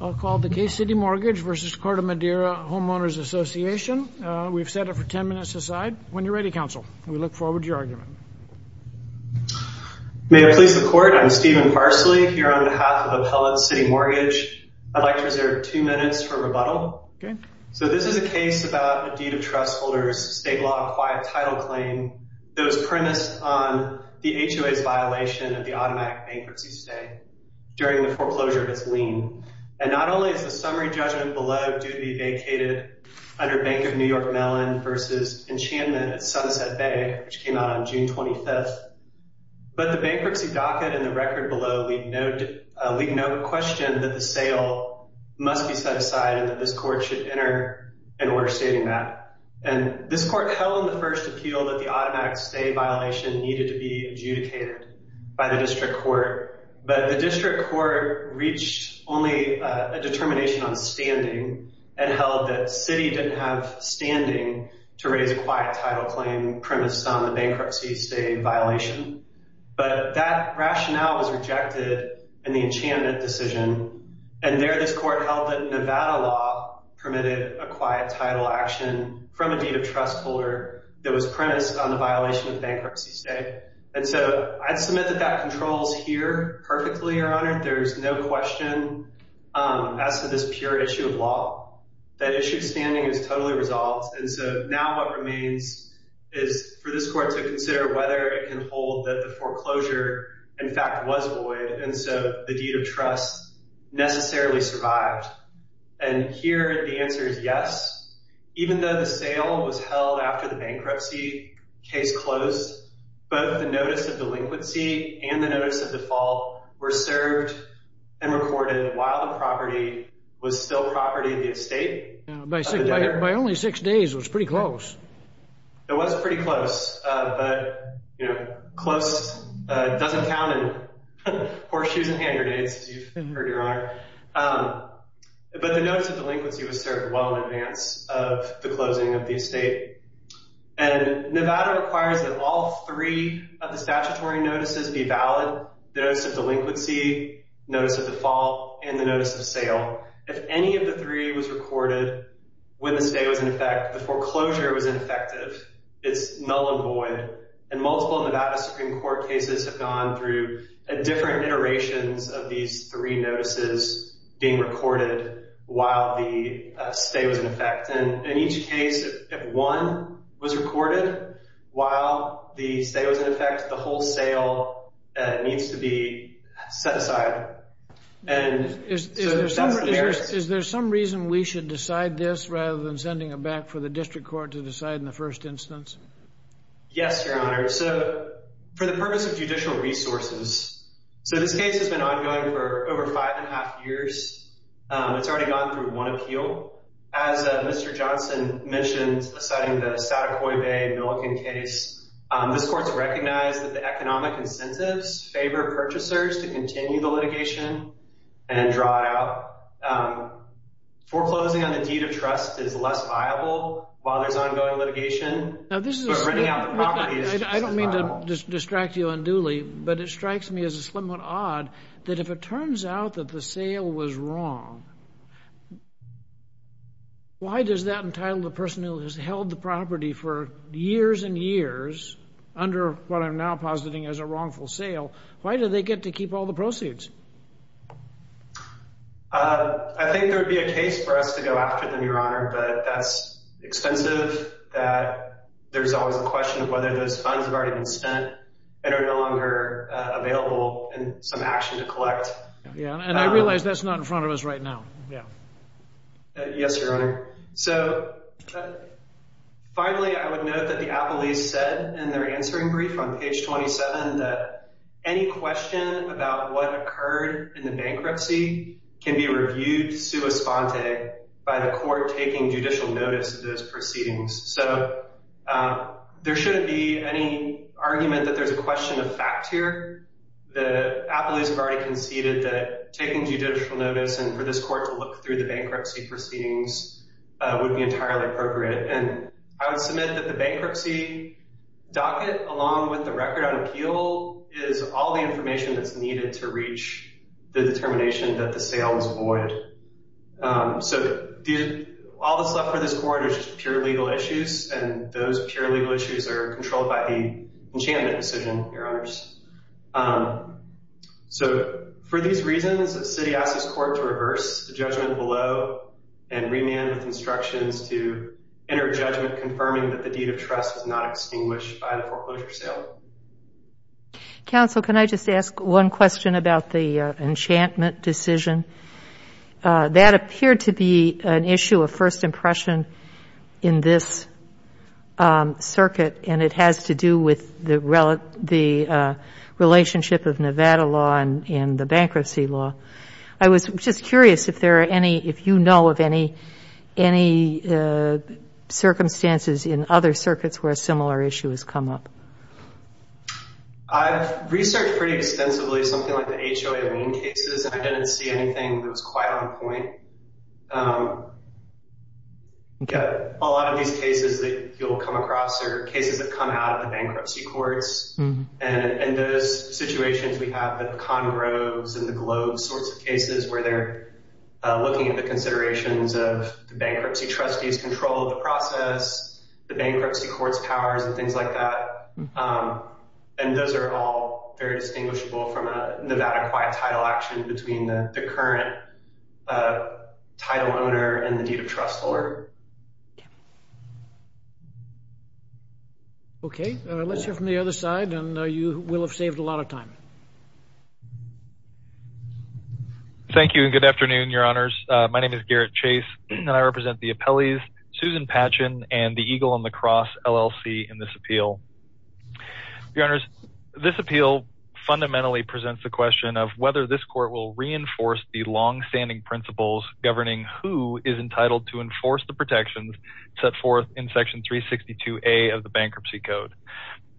I'll call the case CitiMortgage v. Corte Madera Homeowners Association. We've set it for ten minutes aside. When you're ready, counsel, we look forward to your argument. May it please the Court, I'm Stephen Parsley here on behalf of Appellate CitiMortgage. I'd like to reserve two minutes for rebuttal. Okay. So this is a case about a deed of trust holder's state law-acquired title claim that was premised on the HOA's violation of the automatic bankruptcy stay during the foreclosure of its lien. And not only is the summary judgment below due to be vacated under Bank of New York Mellon v. Enchantment at Sunset Bay, which came out on June 25th, but the bankruptcy docket and the record below leave no question that the sale must be set aside and that this Court should enter an order stating that. And this Court held in the first appeal that the automatic stay violation needed to be adjudicated by the district court. But the district court reached only a determination on standing and held that Citi didn't have standing to raise a quiet title claim premised on the bankruptcy stay violation. But that rationale was rejected in the Enchantment decision, and there this Court held that Nevada law permitted a quiet title action from a deed of trust holder that was premised on the violation of bankruptcy stay. And so I'd submit that that controls here perfectly, Your Honor. There's no question as to this pure issue of law. That issue of standing is totally resolved. And so now what remains is for this Court to consider whether it can hold that the foreclosure, in fact, was void and so the deed of trust necessarily survived. And here the answer is yes, even though the sale was held after the bankruptcy case closed, both the notice of delinquency and the notice of default were served and recorded while the property was still property of the estate. By only six days, it was pretty close. It was pretty close, but, you know, close doesn't count in horseshoes and hand grenades, as you've heard, Your Honor. But the notice of delinquency was served well in advance of the closing of the estate. And Nevada requires that all three of the statutory notices be valid, the notice of delinquency, notice of default, and the notice of sale. If any of the three was recorded when the stay was in effect, the foreclosure was ineffective. It's null and void. And multiple Nevada Supreme Court cases have gone through different iterations of these three notices being recorded while the stay was in effect. And in each case, if one was recorded while the stay was in effect, the whole sale needs to be set aside. Is there some reason we should decide this rather than sending it back for the district court to decide in the first instance? Yes, Your Honor. So for the purpose of judicial resources, so this case has been ongoing for over five and a half years. It's already gone through one appeal. As Mr. Johnson mentioned, citing the Satakoi Bay Milliken case, this court has recognized that the economic incentives favor purchasers to continue the litigation and draw it out. Foreclosing on the deed of trust is less viable while there's ongoing litigation. But renting out the property is just as viable. I don't mean to distract you unduly, but it strikes me as a slim odd that if it turns out that the sale was wrong, why does that entitle the person who has held the property for years and years, under what I'm now positing as a wrongful sale, why do they get to keep all the proceeds? I think there would be a case for us to go after them, Your Honor, but that's expensive, that there's always a question of whether those funds have already been spent and are no longer available and some action to collect. Yeah, and I realize that's not in front of us right now. Yes, Your Honor. So finally, I would note that the appellees said in their answering brief on page 27 that any question about what occurred in the bankruptcy can be reviewed sua sponte by the court taking judicial notice of those proceedings. So there shouldn't be any argument that there's a question of fact here. The appellees have already conceded that taking judicial notice and for this court to look through the bankruptcy proceedings would be entirely appropriate. And I would submit that the bankruptcy docket, along with the record on appeal, is all the information that's needed to reach the determination that the sale was void. So all that's left for this court is just pure legal issues, and those pure legal issues are controlled by the enchantment decision, Your Honors. So for these reasons, the city asks this court to reverse the judgment below and remand with instructions to enter judgment confirming that the deed of trust is not extinguished by the foreclosure sale. Counsel, can I just ask one question about the enchantment decision? That appeared to be an issue of first impression in this circuit, and it has to do with the relationship of Nevada law and the bankruptcy law. I was just curious if you know of any circumstances in other circuits where a similar issue has come up. I've researched pretty extensively something like the HOA lien cases, and I didn't see anything that was quite on point. A lot of these cases that you'll come across are cases that come out of the bankruptcy courts, and in those situations we have the Conroes and the Globes sorts of cases where they're looking at the considerations of the bankruptcy trustees' control of the process, the bankruptcy court's powers and things like that, and those are all very distinguishable from a Nevada quiet title action between the current title owner and the deed of trust holder. Okay, let's hear from the other side, and you will have saved a lot of time. My name is Garrett Chase, and I represent the appellees, Susan Patchen and the Eagle and the Cross LLC in this appeal. Your Honors, this appeal fundamentally presents the question of whether this court will reinforce the longstanding principles governing who is entitled to enforce the protections set forth in section 362A of the bankruptcy code,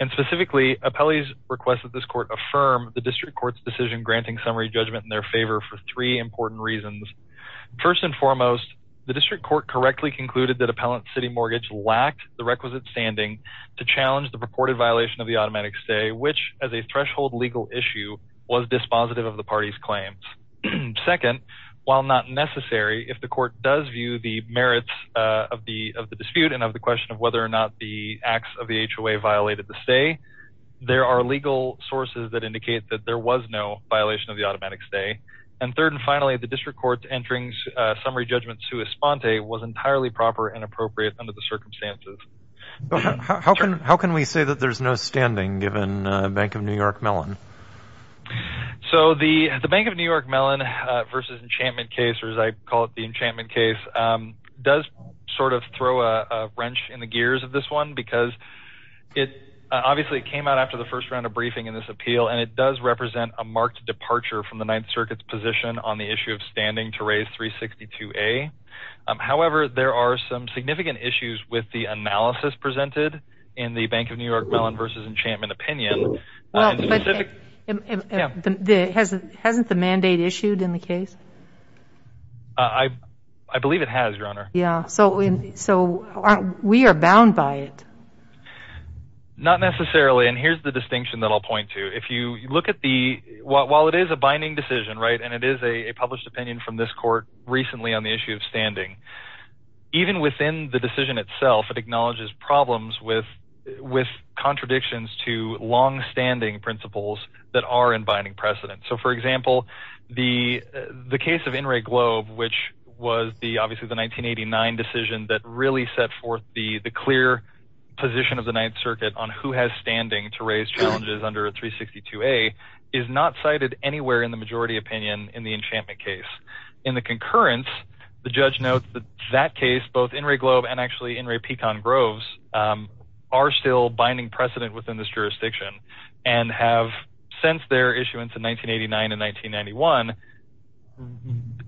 and specifically, appellees request that this court affirm the district court's decision granting summary judgment in their favor for three important reasons. First and foremost, the district court correctly concluded that appellant's city mortgage lacked the requisite standing to challenge the purported violation of the automatic stay, which as a threshold legal issue was dispositive of the party's claims. Second, while not necessary, if the court does view the merits of the dispute and of the question of whether or not the acts of the HOA violated the stay, there are legal sources that indicate that there was no violation of the automatic stay. And third and finally, the district court's entering summary judgment sui sponte was entirely proper and appropriate under the circumstances. How can we say that there's no standing given Bank of New York Mellon? So the Bank of New York Mellon versus Enchantment case, or as I call it, the Enchantment case, does sort of throw a wrench in the gears of this one because it obviously came out after the first round of briefing in this appeal and it does represent a marked departure from the Ninth Circuit's position on the issue of standing to raise 362A. However, there are some significant issues with the analysis presented in the Bank of New York Mellon versus Enchantment opinion. Hasn't the mandate issued in the case? I believe it has, Your Honor. Yeah, so we are bound by it. Not necessarily, and here's the distinction that I'll point to. If you look at the, while it is a binding decision, right, and it is a published opinion from this court recently on the issue of standing, even within the decision itself, it acknowledges problems with contradictions to longstanding principles that are in binding precedent. So, for example, the case of In re Globe, which was obviously the 1989 decision that really set forth the clear position of the Ninth Circuit on who has standing to raise challenges under 362A, is not cited anywhere in the majority opinion in the Enchantment case. In the concurrence, the judge notes that that case, both In re Globe and actually In re Pecan Groves, are still binding precedent within this jurisdiction and have, since their issuance in 1989 and 1991,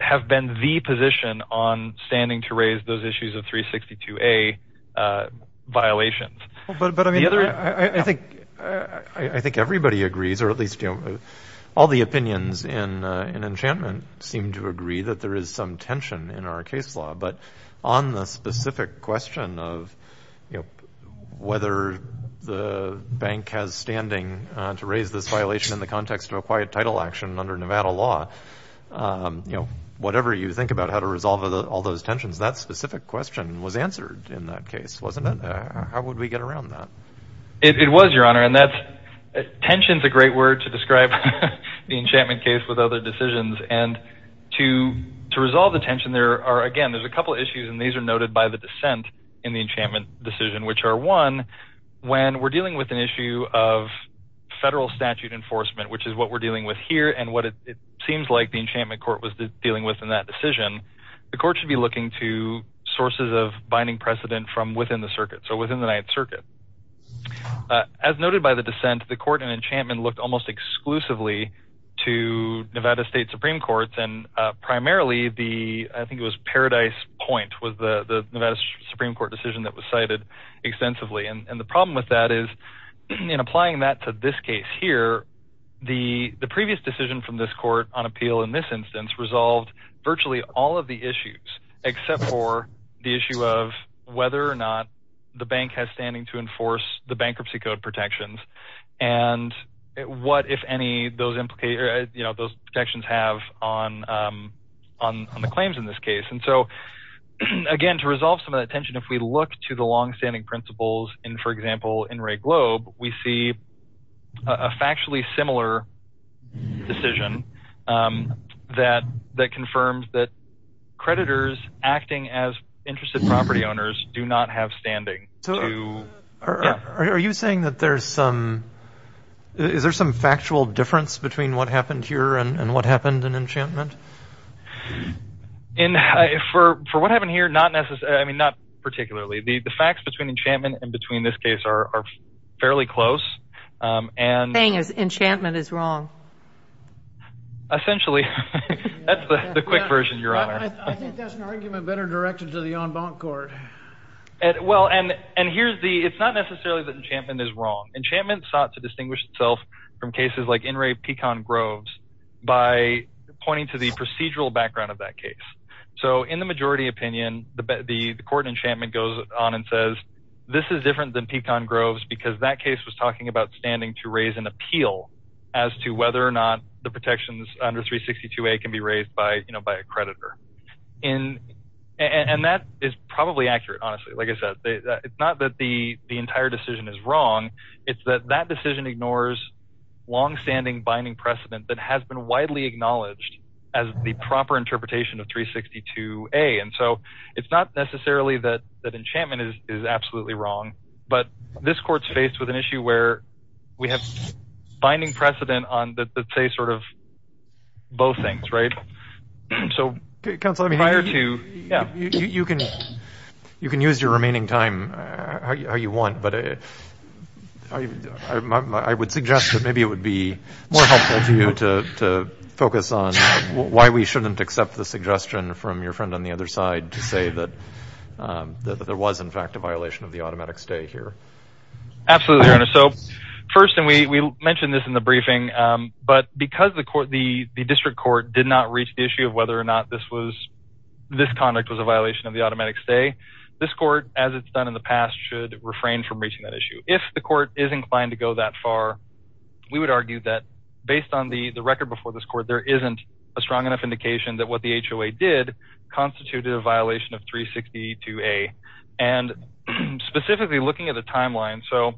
have been the position on standing to raise those issues of 362A violations. I think everybody agrees, or at least all the opinions in Enchantment seem to agree that there is some tension in our case law. But on the specific question of whether the bank has standing to raise this violation in the context of a quiet title action under Nevada law, whatever you think about how to resolve all those tensions, that specific question was answered in that case, wasn't it? How would we get around that? It was, Your Honor, and tension is a great word to describe the Enchantment case with other decisions. And to resolve the tension, there are, again, there's a couple of issues, and these are noted by the dissent in the Enchantment decision, which are, one, when we're dealing with an issue of federal statute enforcement, which is what we're dealing with here and what it seems like the Enchantment court was dealing with in that decision, the court should be looking to sources of binding precedent from within the circuit, so within the Ninth Circuit. As noted by the dissent, the court in Enchantment looked almost exclusively to Nevada State Supreme Courts, and primarily the, I think it was Paradise Point was the Nevada Supreme Court decision that was cited extensively. And the problem with that is, in applying that to this case here, the previous decision from this court on appeal in this instance resolved virtually all of the issues except for the issue of whether or not the bank has standing to enforce the bankruptcy code protections, and what, if any, those protections have on the claims in this case. And so, again, to resolve some of that tension, if we look to the longstanding principles, for example, in Wray Globe, we see a factually similar decision that confirms that creditors acting as interested property owners do not have standing. Are you saying that there's some, is there some factual difference between what happened here and what happened in Enchantment? In, for what happened here, not necessarily, I mean, not particularly. The facts between Enchantment and between this case are fairly close. The thing is, Enchantment is wrong. Essentially. That's the quick version, Your Honor. I think that's an argument better directed to the en banc court. Well, and here's the, it's not necessarily that Enchantment is wrong. Enchantment sought to distinguish itself from cases like In Re Pecan Groves by pointing to the procedural background of that case. So in the majority opinion, the court in Enchantment goes on and says, this is different than Pecan Groves because that case was talking about standing to raise an appeal as to whether or not the protections under 362A can be raised by, you know, by a creditor. And that is probably accurate. Honestly, like I said, it's not that the entire decision is wrong. It's that that decision ignores longstanding binding precedent that has been widely acknowledged as the proper interpretation of 362A. And so it's not necessarily that Enchantment is absolutely wrong, but this court's faced with an issue where we have binding precedent on the, say, sort of both things, right? So prior to, yeah. You can use your remaining time how you want, but I would suggest that maybe it would be more helpful to you to focus on why we shouldn't accept the suggestion from your friend on the other side to say that there was in fact a violation of the automatic stay here. Absolutely, Your Honor. So first, and we mentioned this in the briefing, but because the court, the district court did not reach the issue of whether or not this was, this conduct was a violation of the automatic stay, this court as it's done in the past should refrain from reaching that issue. If the court is inclined to go that far, we would argue that based on the record before this court, there isn't a strong enough indication that what the HOA did constituted a violation of 362A and specifically looking at the timeline. So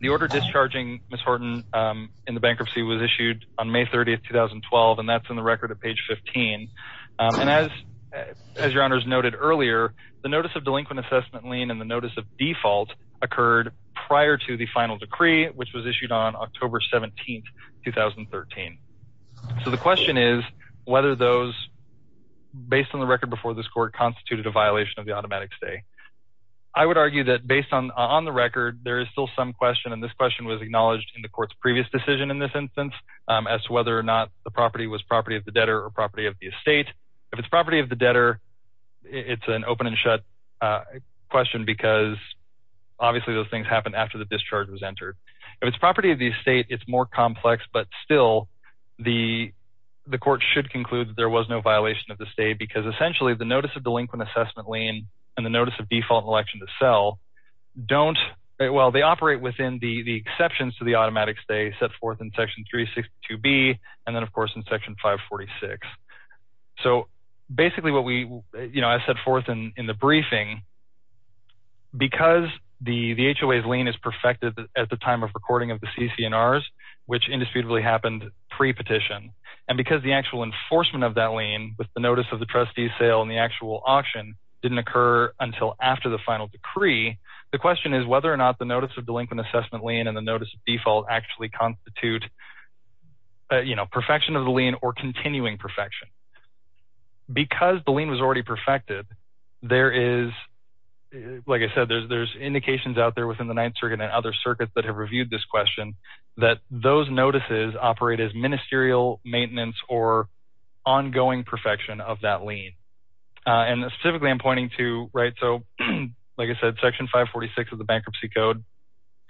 the order discharging Ms. Horton in the bankruptcy was issued on May 30th, 2012, and that's in the record at page 15. And as, as Your Honor's noted earlier, the notice of delinquent assessment lien and the notice of default occurred prior to the final decree, which was issued on October 17th, 2013. So the question is whether those based on the record before this court constituted a violation of the automatic stay. I would argue that based on, on the record, there is still some question. And this question was acknowledged in the court's previous decision in this instance as to whether or not the property was property of the debtor or property of the estate. If it's property of the debtor, it's an open and shut question because obviously those things happen after the discharge was entered. If it's property of the estate, it's more complex, but still the, the court should conclude that there was no violation of the state because essentially the notice of delinquent assessment lien and the notice of default election to sell don't well, they operate within the exceptions to the automatic stay set forth in section three 62 B. And then of course in section five 46. So basically what we, you know, I said forth in, in the briefing, because the HOA's lien is perfected at the time of recording of the CCNRs, which indisputably happened pre petition. And because the actual enforcement of that lien with the notice of the trustees sale and the actual auction didn't occur until after the final decree, the question is whether or not the notice of delinquent assessment lien and the notice of default actually constitute, you know, perfection of the lien or continuing perfection because the lien was already perfected. There is, like I said, there's, there's indications out there within the ninth circuit and other circuits that those notices operate as ministerial maintenance or ongoing perfection of that lien. And specifically I'm pointing to, right. So like I said, section five 46 of the bankruptcy code,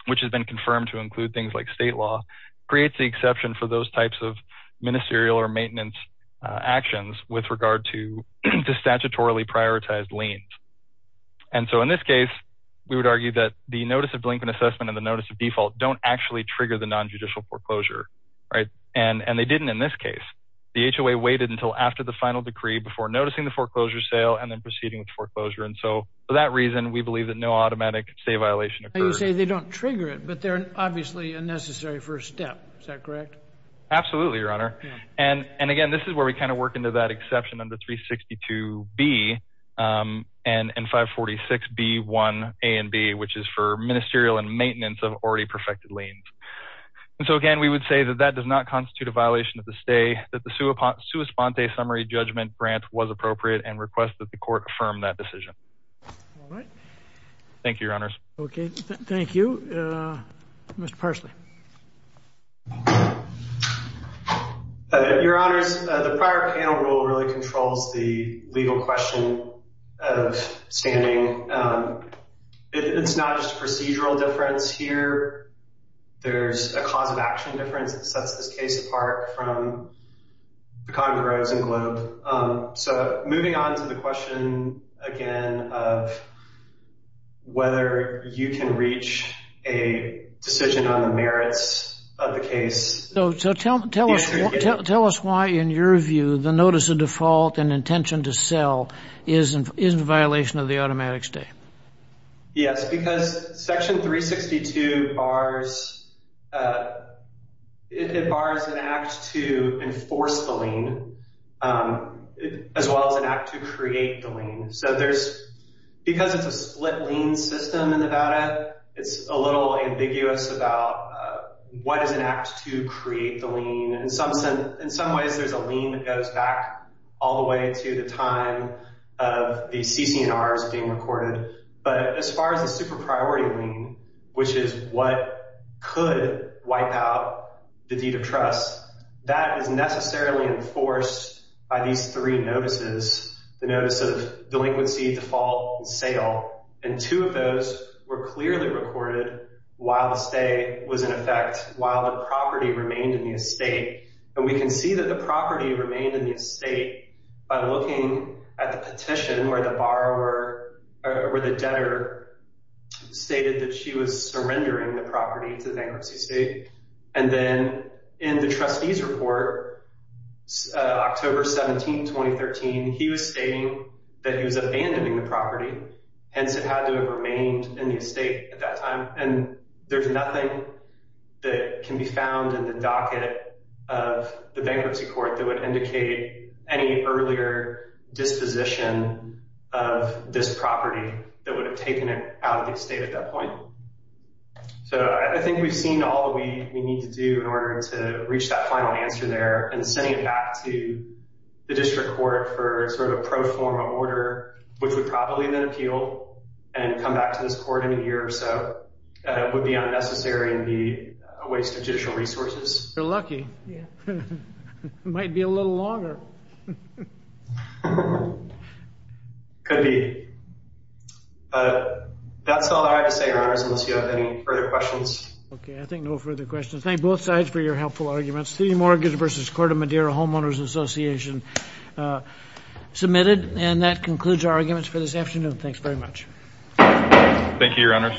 which has been confirmed to include things like state law creates the exception for those types of ministerial or maintenance actions with regard to, to statutorily prioritized liens. And so in this case, we would argue that the notice of delinquent assessment and the notice of nonjudicial foreclosure. Right. And, and they didn't, in this case, the HOA waited until after the final decree before noticing the foreclosure sale and then proceeding with foreclosure. And so for that reason, we believe that no automatic say violation. You say they don't trigger it, but they're obviously a necessary first step. Is that correct? Absolutely. Your honor. And, and again, this is where we kind of work into that exception under three 62 B and five 46 B one a and B, which is for ministerial and maintenance of already perfected lanes. And so, again, we would say that that does not constitute a violation of the stay that the Sue upon Sue Esponte summary judgment grant was appropriate and request that the court affirmed that decision. All right. Thank you. Your honors. Okay. Thank you. Mr. Parsley. Your honors. The prior panel rule really controls the legal question of standing. It's not just procedural difference here. There's a cause of action difference that sets this case apart from the Congress and globe. So moving on to the question again, of whether you can reach a decision on the merits of the case. So tell, tell us, tell us why in your view the notice of default and intention to sell isn't, isn't a violation of the automatic stay. Yes, because section three 62 bars it, it bars an act to enforce the lien as well as an act to create the lien. So there's, because it's a split lien system in Nevada, it's a little ambiguous about what is an act to create the lien. And in some ways there's a lien that goes back all the way to the time of the CC and ours being recorded. But as far as the super priority lien, which is what could wipe out the deed of trust that is necessarily enforced by these three notices, the notice of delinquency default sale. And two of those were clearly recorded while the stay was in effect while the property remained in the estate. And we can see that the property remained in the estate by looking at the date where the borrower or the debtor stated that she was surrendering the property to the bankruptcy state. And then in the trustees report October 17, 2013 he was stating that he was abandoning the property. Hence it had to have remained in the estate at that time. And there's nothing that can be found in the docket of the bankruptcy court that would indicate any earlier disposition of this property that would have taken it out of the estate at that point. So I think we've seen all that we need to do in order to reach that final answer there and sending it back to the district court for sort of pro forma order, which would probably then appeal and come back to this court in a year or so would be unnecessary and be a waste of judicial resources. You're lucky. Yeah. It might be a little longer. Could be. That's all I have to say, your honors, unless you have any further questions. Okay. I think no further questions. Thank both sides for your helpful arguments. City mortgage versus Corte Madera homeowners association submitted. And that concludes our arguments for this afternoon. Thanks very much. Thank you, your honors.